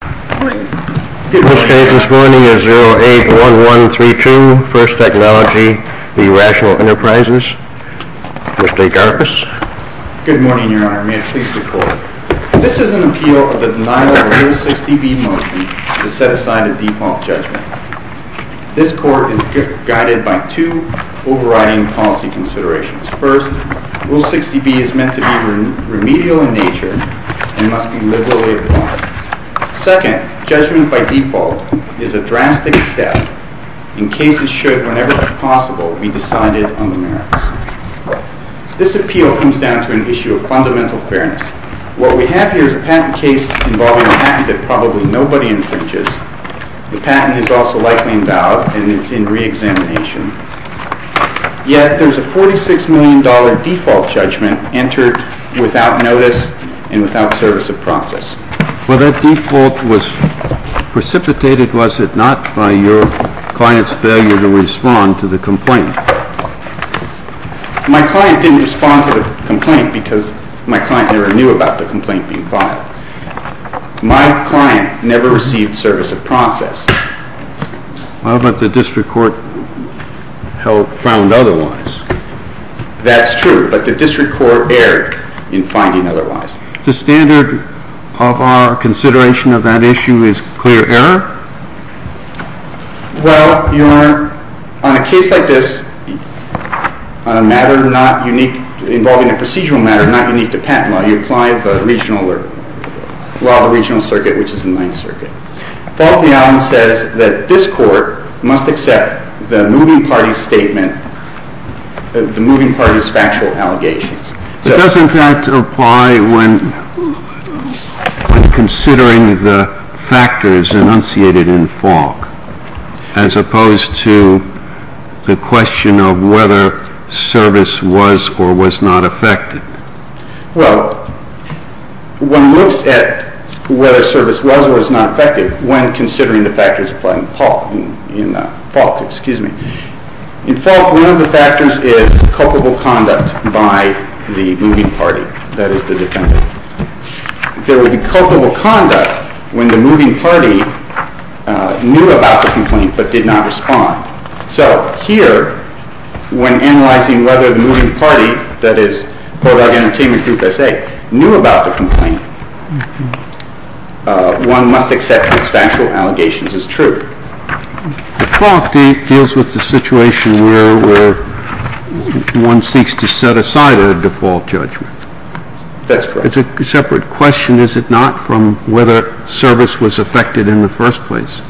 081132, 1st Technology v. Rational Enterprises. Mr. Agarpis. Good morning, Your Honor. May I please record? This is an appeal of the denial of Rule 60B motion to set aside a default judgment. This court is guided by two overriding policy considerations. First, Rule 60B is meant to be remedial in nature and must be liberally applied. Second, judgment by default is a drastic step in cases should, whenever possible, be decided on the merits. This appeal comes down to an issue of fundamental fairness. What we have here is a patent case involving a patent that probably nobody infringes. The patent is also likely invalid and is in re-examination. Yet, there is a $46 million default judgment entered without notice and without service of process. Well, that default was precipitated, was it not, by your client's failure to respond to the complaint? My client didn't respond to the complaint because my client never knew about the complaint being filed. My client never received service of process. Well, but the district court found otherwise. That's true, but the district court erred in finding otherwise. The standard of our consideration of that issue is clear error? Well, Your Honor, on a case like this, on a matter involving a procedural matter not unique to patent law, you apply the law of the regional circuit, which is the Ninth Circuit. Falk and Allen says that this Court must accept the moving party's statement, the moving party's factual allegations. But doesn't that apply when considering the factors enunciated in Falk, as opposed to the question of whether service was or was not affected? Well, one looks at whether service was or was not affected when considering the factors in Falk. In Falk, one of the factors is culpable conduct by the moving party, that is, the defendant. There would be culpable conduct when the moving party knew about the complaint but did not respond. So here, when analyzing whether the moving party, that is, Board of Entertainment Group S.A., knew about the complaint, one must accept its factual allegations as true. But Falk deals with the situation where one seeks to set aside a default judgment. That's correct. It's a separate question, is it not, from whether service was affected in the first place?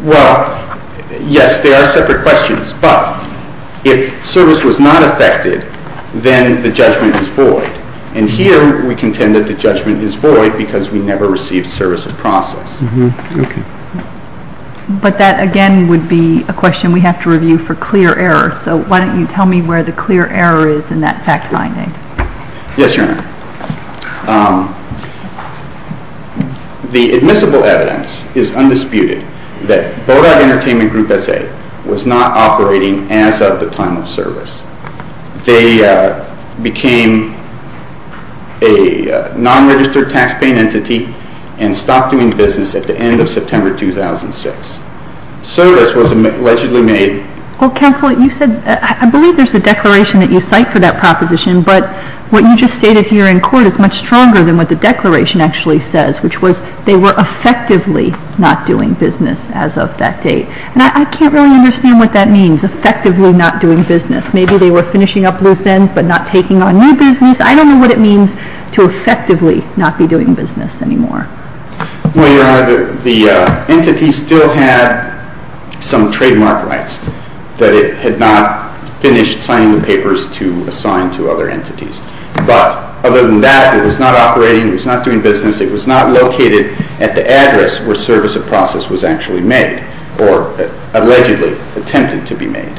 Well, yes, there are separate questions. But if service was not affected, then the judgment is void. And here, we contend that the judgment is void because we never received service of process. Okay. But that, again, would be a question we have to review for clear error. So why don't you tell me where the clear error is in that fact-finding? Yes, Your Honor. The admissible evidence is undisputed that Board of Entertainment Group S.A. was not operating as of the time of service. They became a non-registered taxpaying entity and stopped doing business at the end of September 2006. Service was allegedly made. Well, counsel, you said, I believe there's a declaration that you cite for that proposition. But what you just stated here in court is much stronger than what the declaration actually says, which was they were effectively not doing business as of that date. And I can't really understand what that means, effectively not doing business. Maybe they were finishing up loose ends but not taking on new business. I don't know what it means to effectively not be doing business anymore. Well, Your Honor, the entity still had some trademark rights that it had not finished signing the papers to assign to other entities. But other than that, it was not operating. It was not doing business. It was not located at the address where service of process was actually made or allegedly attempted to be made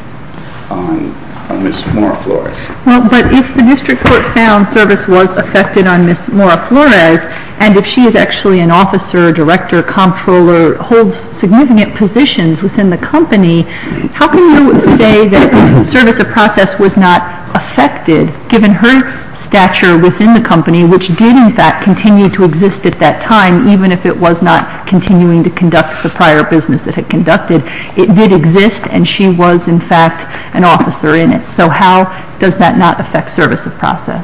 on Ms. Mora-Flores. Well, but if the district court found service was affected on Ms. Mora-Flores, and if she is actually an officer, director, comptroller, holds significant positions within the company, how can you say that service of process was not affected, given her stature within the company, which did in fact continue to exist at that time, even if it was not continuing to conduct the prior business it had conducted? It did exist, and she was in fact an officer in it. So how does that not affect service of process?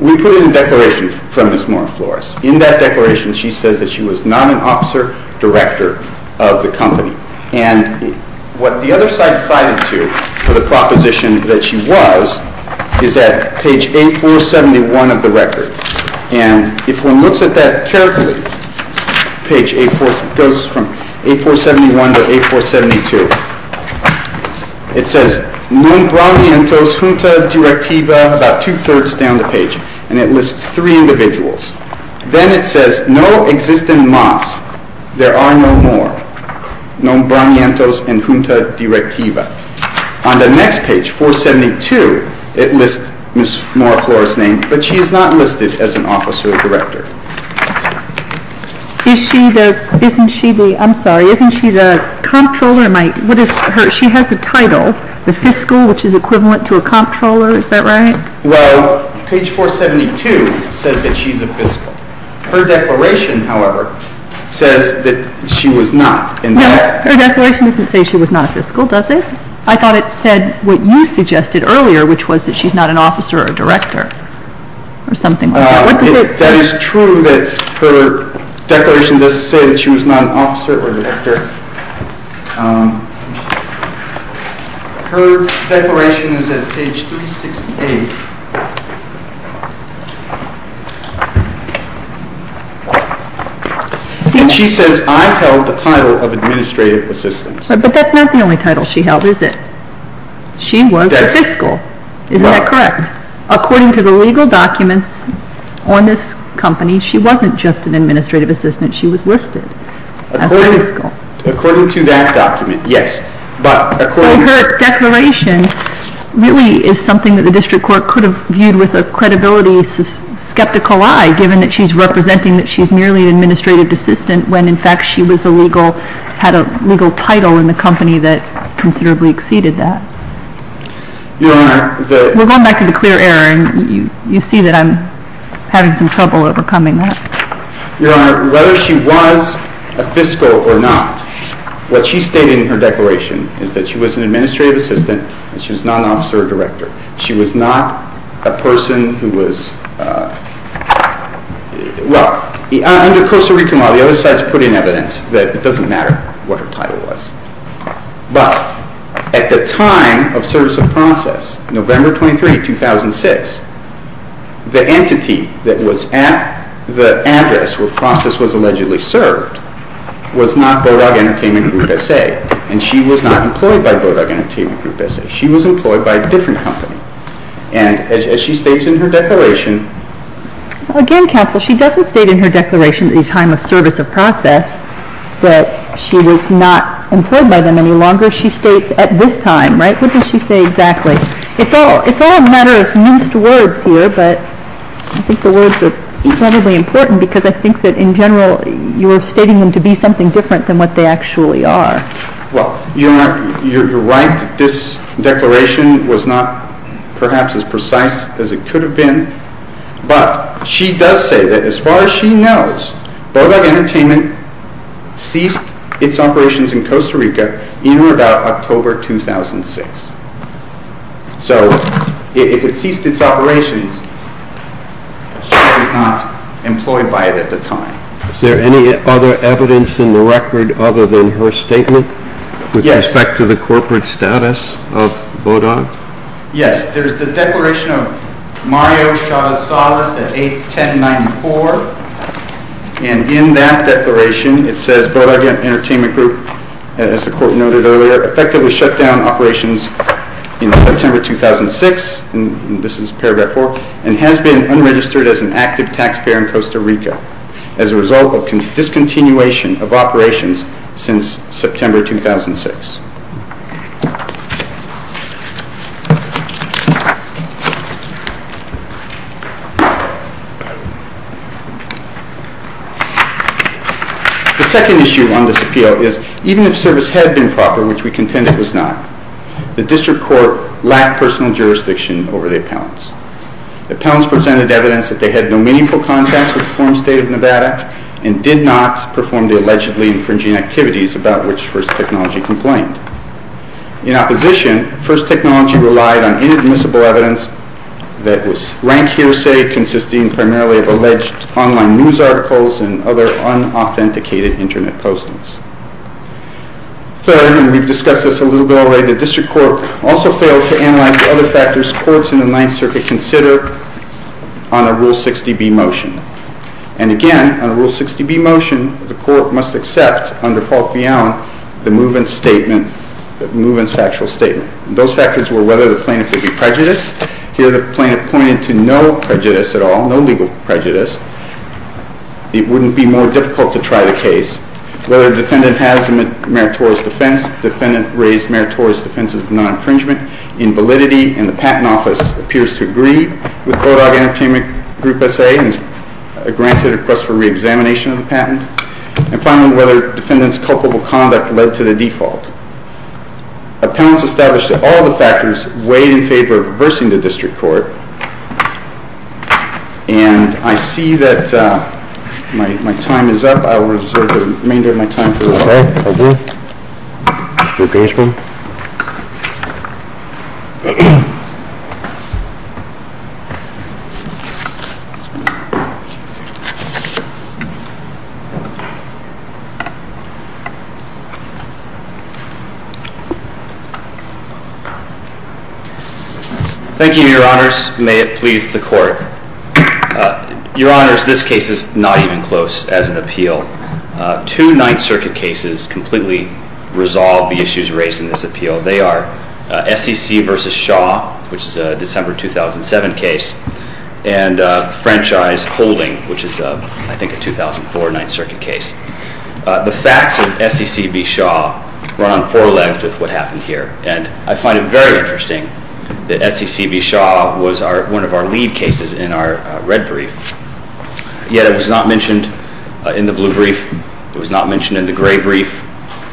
We put in a declaration for Ms. Mora-Flores. In that declaration, she says that she was not an officer, director of the company. And what the other side cited to for the proposition that she was is at page 8471 of the record. And if one looks at that carefully, page 8471 to 8472, it says, Nombranientos junta directiva, about two-thirds down the page, and it lists three individuals. Then it says, no existent mas. There are no more. Nombranientos and junta directiva. On the next page, 472, it lists Ms. Mora-Flores' name, but she is not listed as an officer or director. Isn't she the comptroller? She has a title, the fiscal, which is equivalent to a comptroller. Is that right? Well, page 472 says that she's a fiscal. Her declaration, however, says that she was not. No, her declaration doesn't say she was not fiscal, does it? I thought it said what you suggested earlier, which was that she's not an officer or director or something like that. That is true that her declaration does say that she was not an officer or director. Her declaration is at page 368. And she says, I held the title of administrative assistant. But that's not the only title she held, is it? She was a fiscal. Isn't that correct? According to the legal documents on this company, she wasn't just an administrative assistant. She was listed as a fiscal. According to that document, yes. So her declaration really is something that the district court couldn't do. I'm sort of viewed with a credibility skeptical eye, given that she's representing that she's merely an administrative assistant, when in fact she had a legal title in the company that considerably exceeded that. Your Honor, the We're going back to the clear error, and you see that I'm having some trouble overcoming that. Your Honor, whether she was a fiscal or not, what she stated in her declaration is that she was an administrative assistant, and she was not an officer or director. She was not a person who was Well, under Costa Rica law, the other side has put in evidence that it doesn't matter what her title was. But at the time of service of process, November 23, 2006, the entity that was at the address where process was allegedly served was not Bodog Entertainment Group S.A., and she was not employed by Bodog Entertainment Group S.A. She was employed by a different company. And as she states in her declaration Again, counsel, she doesn't state in her declaration at the time of service of process that she was not employed by them any longer. She states at this time, right? What does she say exactly? It's all a matter of minced words here, but I think the words are incredibly important because I think that in general you're stating them to be something different than what they actually are. Well, you're right that this declaration was not perhaps as precise as it could have been, but she does say that as far as she knows, Bodog Entertainment ceased its operations in Costa Rica in or about October 2006. So if it ceased its operations, she was not employed by it at the time. Is there any other evidence in the record other than her statement? Yes. With respect to the corporate status of Bodog? Yes, there's the declaration of Mario Chavez-Salas at 8-10-94, and in that declaration it says, Bodog Entertainment Group, as the court noted earlier, effectively shut down operations in September 2006, and this is Paragraph 4, and has been unregistered as an active taxpayer in Costa Rica. As a result of discontinuation of operations since September 2006. The second issue on this appeal is, even if service had been proper, which we contend it was not, the district court lacked personal jurisdiction over the appellants. The appellants presented evidence that they had no meaningful contacts with the former state of Nevada, and did not perform the allegedly infringing activities about which First Technology complained. In opposition, First Technology relied on inadmissible evidence that was rank hearsay consisting primarily of alleged online news articles and other unauthenticated internet postings. Third, and we've discussed this a little bit already, the district court also failed to analyze the other factors courts in the Ninth Circuit consider on a Rule 60B motion. And again, on a Rule 60B motion, the court must accept, under Fault Beyond, the movement's factual statement. Those factors were whether the plaintiff would be prejudiced. Here the plaintiff pointed to no prejudice at all, no legal prejudice. It wouldn't be more difficult to try the case. Whether the defendant has a meritorious defense, the defendant raised meritorious defenses of non-infringement, in validity, and the patent office appears to agree with Bulldog Entertainment Group S.A. and has granted a request for re-examination of the patent. And finally, whether the defendant's culpable conduct led to the default. Appellants established that all the factors weighed in favor of reversing the district court. And I see that my time is up. I will reserve the remainder of my time for the court. Thank you, Your Honors. Your Honors, this case is not even close as an appeal. Two Ninth Circuit cases completely resolve the issues raised in this appeal. They are SEC v. Shaw, which is a December 2007 case, and Franchise Holding, which is, I think, a 2004 Ninth Circuit case. The facts of SEC v. Shaw run on four legs with what happened here. And I find it very interesting that SEC v. Shaw was one of our lead cases in our red brief, yet it was not mentioned in the blue brief. It was not mentioned in the gray brief.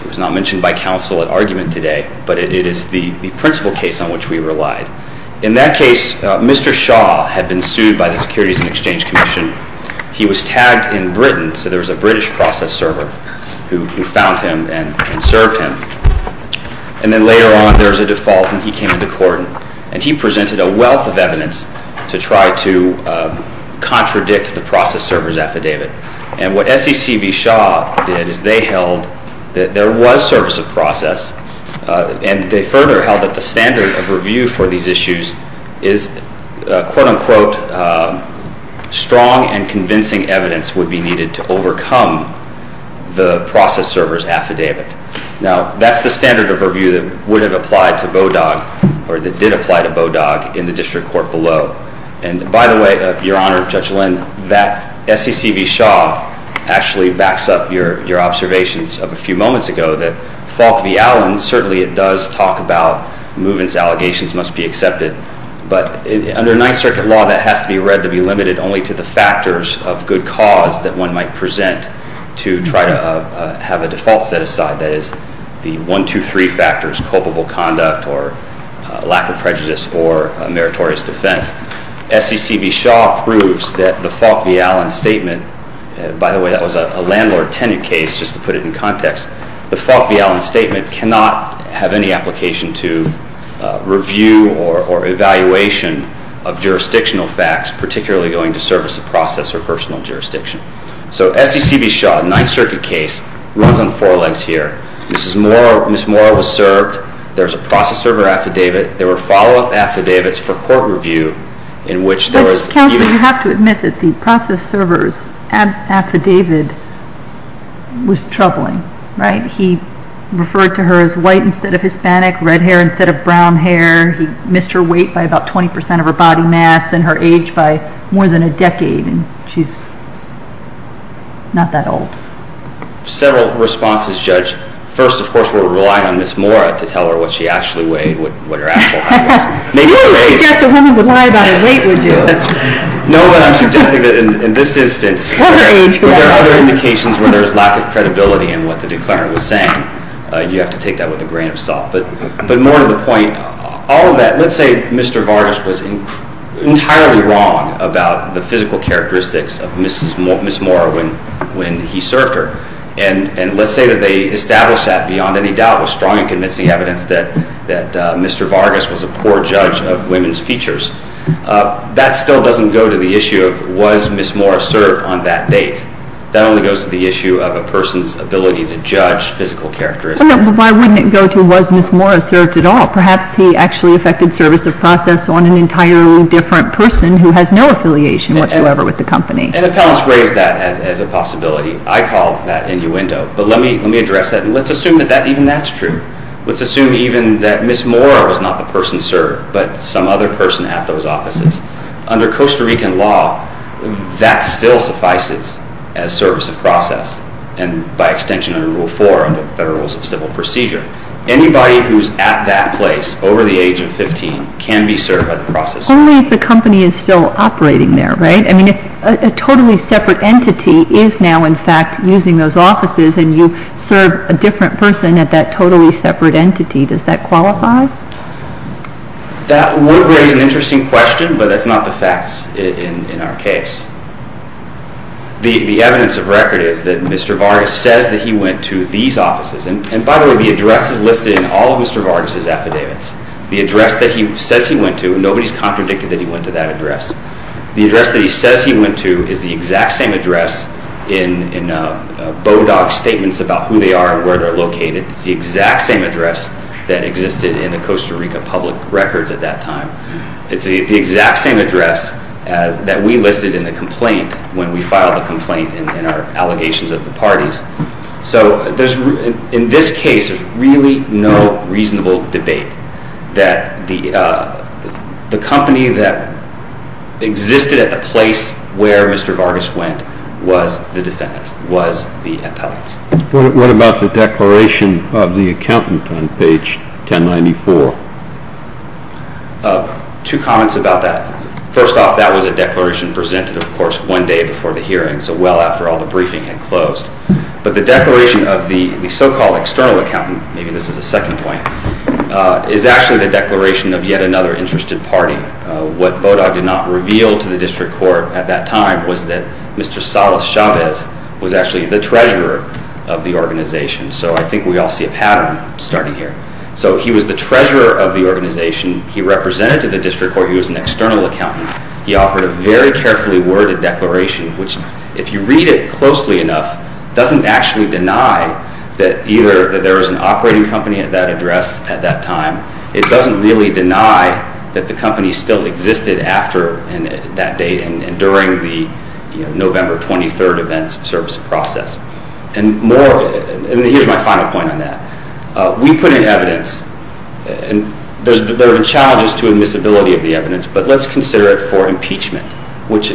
It was not mentioned by counsel at argument today, but it is the principal case on which we relied. In that case, Mr. Shaw had been sued by the Securities and Exchange Commission. He was tagged in Britain, so there was a British process server who found him and served him. And then later on, there was a default, and he came into court, and he presented a wealth of evidence to try to contradict the process server's affidavit. And what SEC v. Shaw did is they held that there was service of process, and they further held that the standard of review for these issues is, quote-unquote, strong and convincing evidence would be needed to overcome the process server's affidavit. Now, that's the standard of review that would have applied to Bodog, or that did apply to Bodog, in the district court below. And by the way, Your Honor, Judge Lynn, that SEC v. Shaw actually backs up your observations of a few moments ago that Falk v. Allen, certainly it does talk about movements allegations must be accepted, but under Ninth Circuit law, that has to be read to be limited only to the factors of good cause that one might present to try to have a default set aside. That is, the one, two, three factors, culpable conduct or lack of prejudice or meritorious defense. SEC v. Shaw proves that the Falk v. Allen statement, by the way, that was a landlord-tenant case, just to put it in context, the Falk v. Allen statement cannot have any application to review or evaluation of jurisdictional facts, particularly going to service of process or personal jurisdiction. So SEC v. Shaw, Ninth Circuit case, runs on four legs here. Ms. Mora was served. There's a process server affidavit. There were follow-up affidavits for court review in which there was... Counselor, you have to admit that the process server's affidavit was troubling, right? He referred to her as white instead of Hispanic, red hair instead of brown hair. He missed her weight by about 20 percent of her body mass and her age by more than a decade, and she's not that old. Several responses, Judge. First, of course, we're relying on Ms. Mora to tell her what she actually weighed, what her actual height was. You wouldn't suggest a woman would lie about her weight, would you? No, but I'm suggesting that in this instance, where there are other indications where there's lack of credibility in what the declarer was saying, you have to take that with a grain of salt. But more to the point, all of that. Let's say Mr. Vargas was entirely wrong about the physical characteristics of Ms. Mora when he served her, and let's say that they established that beyond any doubt with strong and convincing evidence that Mr. Vargas was a poor judge of women's features. That still doesn't go to the issue of was Ms. Mora served on that date. That only goes to the issue of a person's ability to judge physical characteristics. Why wouldn't it go to was Ms. Mora served at all? Perhaps he actually affected service of process on an entirely different person who has no affiliation whatsoever with the company. And appellants raise that as a possibility. I call that innuendo. But let me address that, and let's assume that even that's true. Let's assume even that Ms. Mora was not the person served, but some other person at those offices. Under Costa Rican law, that still suffices as service of process, and by extension under Rule 4 of the Federal Rules of Civil Procedure. Anybody who's at that place over the age of 15 can be served by the process. Only if the company is still operating there, right? I mean, a totally separate entity is now, in fact, using those offices, and you serve a different person at that totally separate entity. Does that qualify? That would raise an interesting question, but that's not the facts in our case. The evidence of record is that Mr. Vargas says that he went to these offices. And by the way, the address is listed in all of Mr. Vargas' affidavits. The address that he says he went to, nobody's contradicted that he went to that address. The address that he says he went to is the exact same address in Bodog's statements about who they are and where they're located. It's the exact same address that existed in the Costa Rica public records at that time. It's the exact same address that we listed in the complaint when we filed the complaint in our allegations of the parties. So in this case, there's really no reasonable debate that the company that existed at the place where Mr. Vargas went was the defendant's, was the appellate's. What about the declaration of the accountant on page 1094? Two comments about that. First off, that was a declaration presented, of course, one day before the hearing, so well after all the briefing had closed. But the declaration of the so-called external accountant, maybe this is a second point, is actually the declaration of yet another interested party. What Bodog did not reveal to the district court at that time was that Mr. Salas Chavez was actually the treasurer of the organization. So I think we all see a pattern starting here. So he was the treasurer of the organization. He represented to the district court. He was an external accountant. He offered a very carefully worded declaration, which, if you read it closely enough, doesn't actually deny that either there was an operating company at that address at that time. It doesn't really deny that the company still existed after that date and during the November 23rd events service process. And here's my final point on that. We put in evidence, and there have been challenges to admissibility of the evidence, but let's consider it for impeachment, which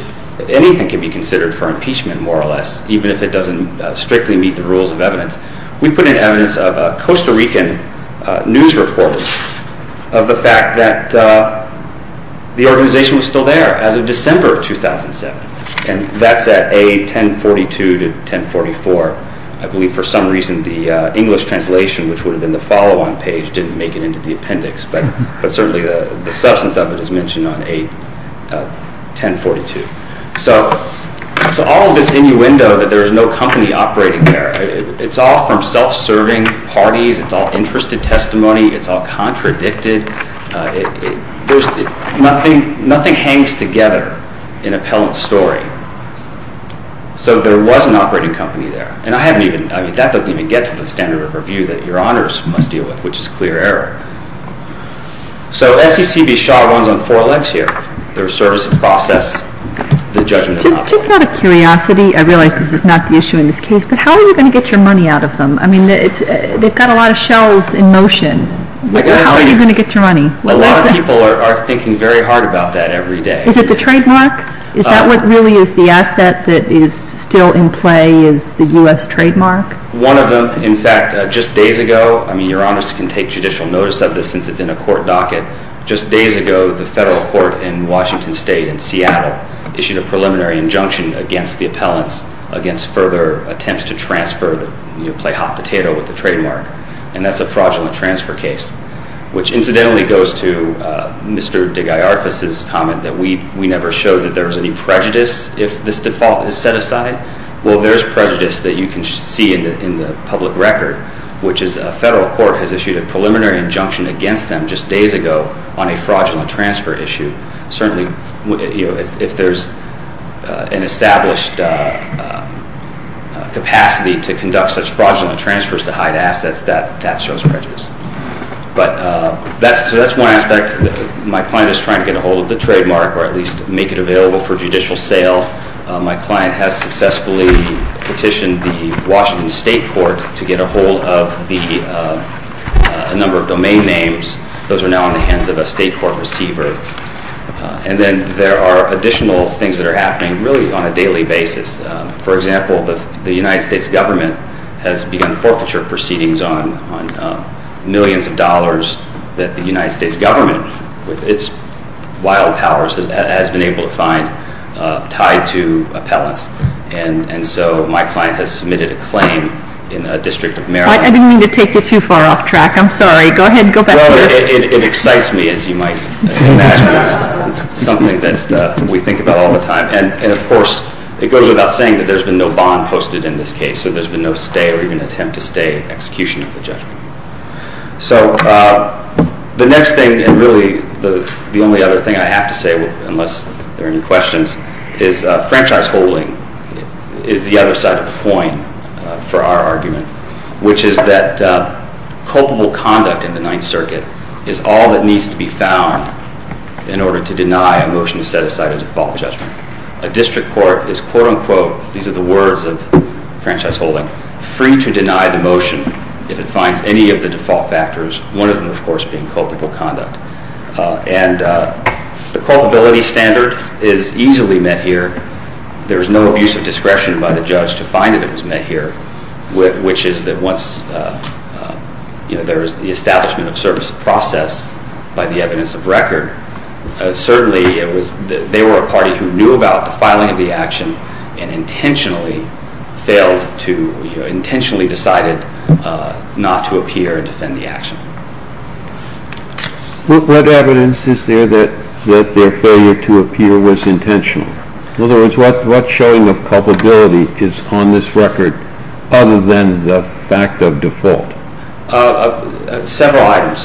anything can be considered for impeachment more or less, even if it doesn't strictly meet the rules of evidence. We put in evidence of a Costa Rican news reporter of the fact that the organization was still there as of December of 2007, and that's at A1042 to 1044. I believe for some reason the English translation, which would have been the follow-on page, didn't make it into the appendix, but certainly the substance of it is mentioned on A1042. So all of this innuendo that there is no company operating there, it's all from self-serving parties. It's all interest to testimony. It's all contradicted. Nothing hangs together in appellant's story. So there was an operating company there, and that doesn't even get to the standard of review that your honors must deal with, which is clear error. So SEC v. Shaw runs on four legs here. There's service of process. The judgment is not made. Just out of curiosity, I realize this is not the issue in this case, but how are you going to get your money out of them? I mean, they've got a lot of shells in motion. How are you going to get your money? A lot of people are thinking very hard about that every day. Is it the trademark? Is that what really is the asset that is still in play is the U.S. trademark? One of them, in fact, just days ago, I mean, your honors can take judicial notice of this since it's in a court docket. Just days ago, the federal court in Washington State in Seattle issued a preliminary injunction against the appellants against further attempts to transfer, you know, play hot potato with the trademark, and that's a fraudulent transfer case, which incidentally goes to Mr. DeGaiarfis' comment that we never showed that there was any prejudice if this default is set aside. Well, there's prejudice that you can see in the public record, which is a federal court has issued a preliminary injunction against them just days ago on a fraudulent transfer issue. Certainly, you know, if there's an established capacity to conduct such fraudulent transfers to hide assets, that shows prejudice. But that's one aspect. My client is trying to get a hold of the trademark or at least make it available for judicial sale. My client has successfully petitioned the Washington State court to get a hold of a number of domain names. Those are now in the hands of a state court receiver. And then there are additional things that are happening really on a daily basis. For example, the United States government has begun forfeiture proceedings on millions of dollars that the United States government, with its wild powers, has been able to find tied to appellants. And so my client has submitted a claim in a district of Maryland. I didn't mean to take you too far off track. I'm sorry. Go ahead. Go back. Well, it excites me, as you might imagine. It's something that we think about all the time. And, of course, it goes without saying that there's been no bond posted in this case. So there's been no stay or even attempt to stay execution of the judgment. So the next thing and really the only other thing I have to say, unless there are any questions, is franchise holding is the other side of the coin for our argument, which is that culpable conduct in the Ninth Circuit is all that needs to be found in order to deny a motion to set aside a default judgment. A district court is, quote, unquote, these are the words of franchise holding, free to deny the motion if it finds any of the default factors, one of them, of course, being culpable conduct. And the culpability standard is easily met here. There is no abuse of discretion by the judge to find that it was met here, which is that once there is the establishment of service process by the evidence of record, certainly they were a party who knew about the filing of the action and intentionally decided not to appear and defend the action. What evidence is there that their failure to appear was intentional? In other words, what showing of culpability is on this record other than the fact of default? Several items.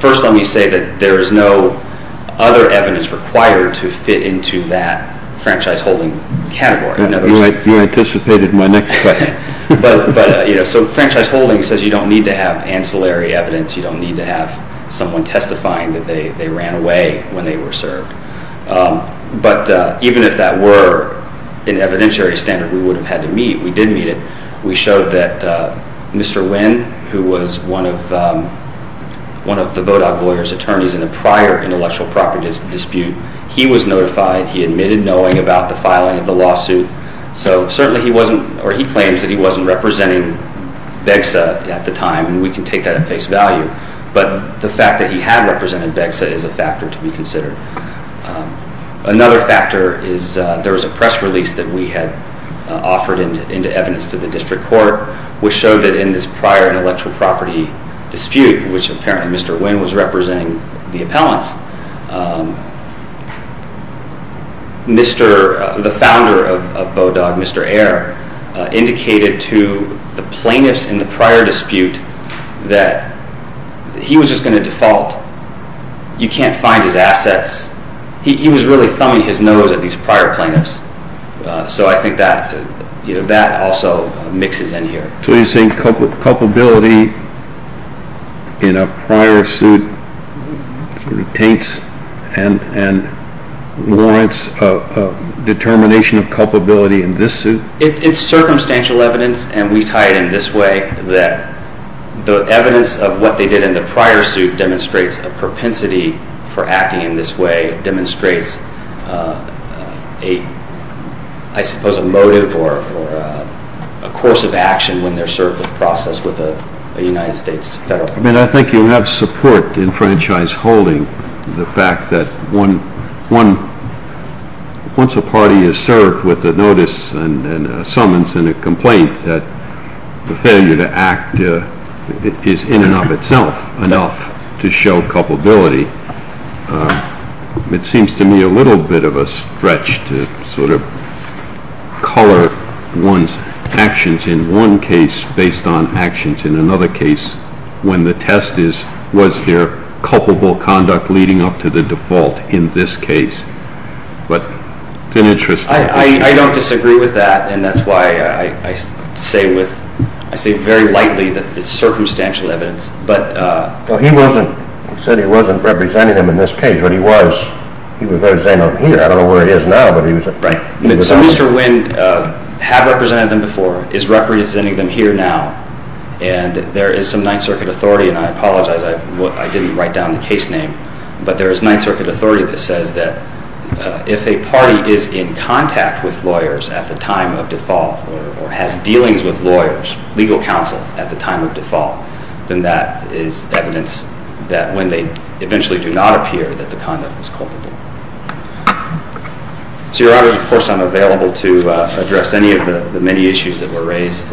First, let me say that there is no other evidence required to fit into that franchise holding category. You anticipated my next question. So franchise holding says you don't need to have ancillary evidence, you don't need to have someone testifying that they ran away when they were served. But even if that were an evidentiary standard we would have had to meet, we did meet it. We showed that Mr. Wynn, who was one of the Bodog lawyers' attorneys in a prior intellectual property dispute, he was notified, he admitted knowing about the filing of the lawsuit. So certainly he wasn't, or he claims that he wasn't representing BEGSA at the time, and we can take that at face value. But the fact that he had represented BEGSA is a factor to be considered. Another factor is there was a press release that we had offered into evidence to the district court which showed that in this prior intellectual property dispute, which apparently Mr. Wynn was representing the appellants, the founder of Bodog, Mr. Ayer, indicated to the plaintiffs in the prior dispute that he was just going to default. You can't find his assets. He was really thumbing his nose at these prior plaintiffs. So I think that also mixes in here. So you're saying culpability in a prior suit taints and warrants a determination of culpability in this suit? It's circumstantial evidence, and we tie it in this way, that the evidence of what they did in the prior suit demonstrates a propensity for acting in this way, demonstrates, I suppose, a motive or a course of action when they're served with a process with a United States federal court. I mean, I think you have support in franchise holding the fact that once a party is served with a notice and a summons and a complaint that the failure to act is in and of itself enough to show culpability. It seems to me a little bit of a stretch to sort of color one's actions in one case based on actions in another case when the test is was there culpable conduct leading up to the default in this case. But it's an interesting case. I don't disagree with that, and that's why I say very lightly that it's circumstantial evidence. He said he wasn't representing them in this case, but he was. He was representing them here. I don't know where he is now, but he was. Right. So Mr. Wynn had represented them before, is representing them here now, and there is some Ninth Circuit authority, and I apologize, I didn't write down the case name, but there is Ninth Circuit authority that says that if a party is in contact with lawyers at the time of default or has dealings with lawyers, legal counsel at the time of default, then that is evidence that when they eventually do not appear that the conduct was culpable. So, Your Honors, of course, I'm available to address any of the many issues that were raised.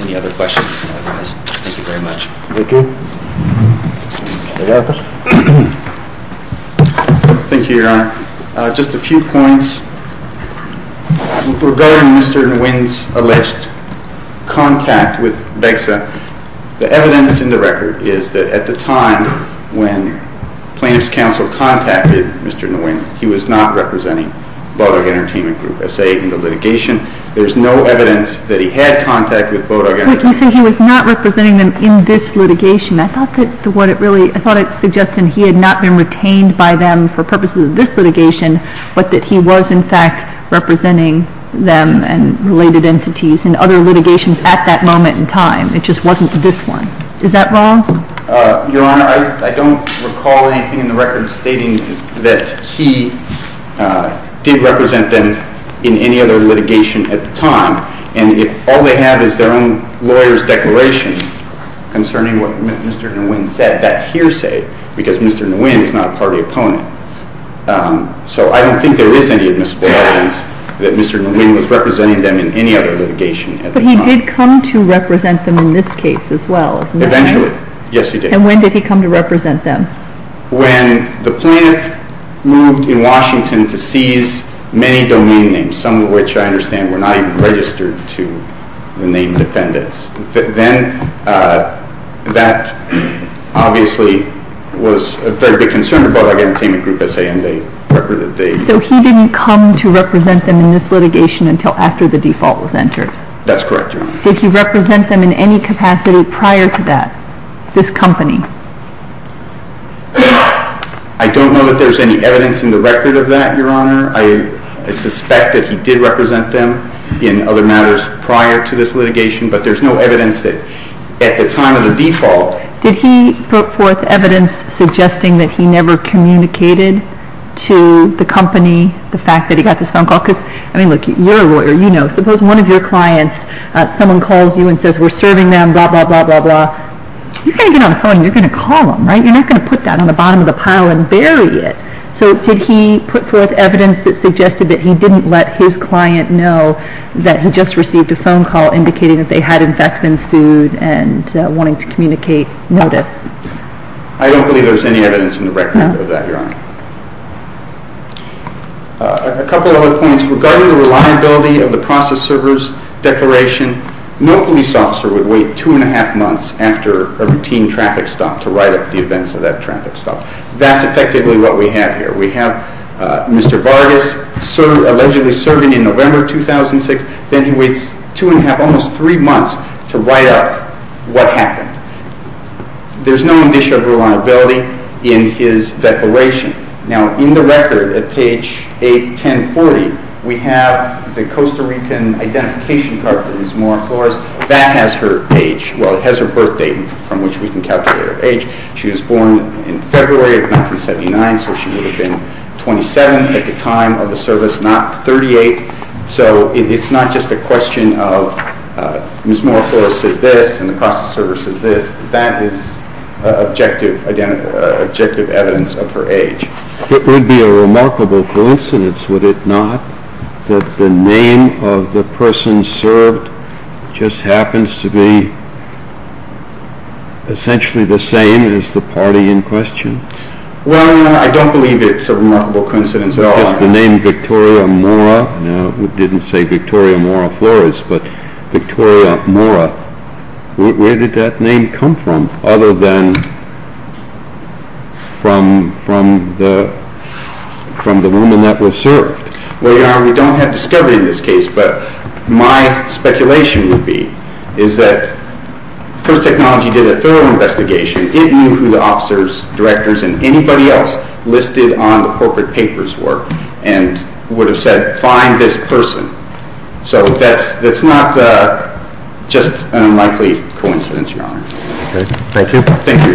Any other questions? Thank you very much. Thank you. Thank you, Your Honor. Just a few points regarding Mr. Nguyen's alleged contact with BEXA. The evidence in the record is that at the time when plaintiff's counsel contacted Mr. Nguyen, he was not representing Bodog Entertainment Group S.A. in the litigation. There's no evidence that he had contact with Bodog Entertainment Group. But you say he was not representing them in this litigation. I thought it suggested he had not been retained by them for purposes of this litigation, but that he was, in fact, representing them and related entities in other litigations at that moment in time. It just wasn't this one. Is that wrong? Your Honor, I don't recall anything in the record stating that he did represent them in any other litigation at the time. And all they have is their own lawyer's declaration concerning what Mr. Nguyen said. That's hearsay because Mr. Nguyen is not a party opponent. So I don't think there is any admissible evidence that Mr. Nguyen was representing them in any other litigation at the time. But he did come to represent them in this case as well, isn't that right? Eventually. Yes, he did. And when did he come to represent them? When the plaintiff moved in Washington to seize many domain names, some of which I understand were not even registered to the named defendants. Then that obviously was a very big concern of Bodog Entertainment Group. So he didn't come to represent them in this litigation until after the default was entered? That's correct, Your Honor. Did he represent them in any capacity prior to that, this company? I don't know that there's any evidence in the record of that, Your Honor. I suspect that he did represent them in other matters prior to this litigation, but there's no evidence that at the time of the default. Did he put forth evidence suggesting that he never communicated to the company the fact that he got this phone call? Because, I mean, look, you're a lawyer, you know. Suppose one of your clients, someone calls you and says, we're serving them, blah, blah, blah, blah, blah. You're going to get on the phone and you're going to call them, right? You're not going to put that on the bottom of the pile and bury it. So did he put forth evidence that suggested that he didn't let his client know that he just received a phone call indicating that they had in fact been sued and wanting to communicate notice? I don't believe there's any evidence in the record of that, Your Honor. A couple of other points. Regarding the reliability of the process server's declaration, no police officer would wait two and a half months after a routine traffic stop to write up the events of that traffic stop. That's effectively what we have here. We have Mr. Vargas allegedly serving in November 2006, then he waits two and a half, almost three months, to write up what happened. There's no indicia of reliability in his declaration. Now, in the record at page 81040, we have the Costa Rican identification card for Ms. Mora Flores. That has her age. Well, it has her birth date from which we can calculate her age. She was born in February of 1979, so she would have been 27 at the time of the service, not 38. So it's not just a question of Ms. Mora Flores says this and the process server says this. That is objective evidence of her age. It would be a remarkable coincidence, would it not, that the name of the person served just happens to be essentially the same as the party in question? Well, I don't believe it's a remarkable coincidence at all. Because the name Victoria Mora, now it didn't say Victoria Mora Flores, but Victoria Mora, where did that name come from other than from the woman that was served? Well, Your Honor, we don't have discovery in this case, but my speculation would be is that First Technology did a thorough investigation. It knew who the officers, directors, and anybody else listed on the corporate papers were and would have said find this person. So that's not just an unlikely coincidence, Your Honor. Thank you. Thank you, Your Honor. Case is submitted.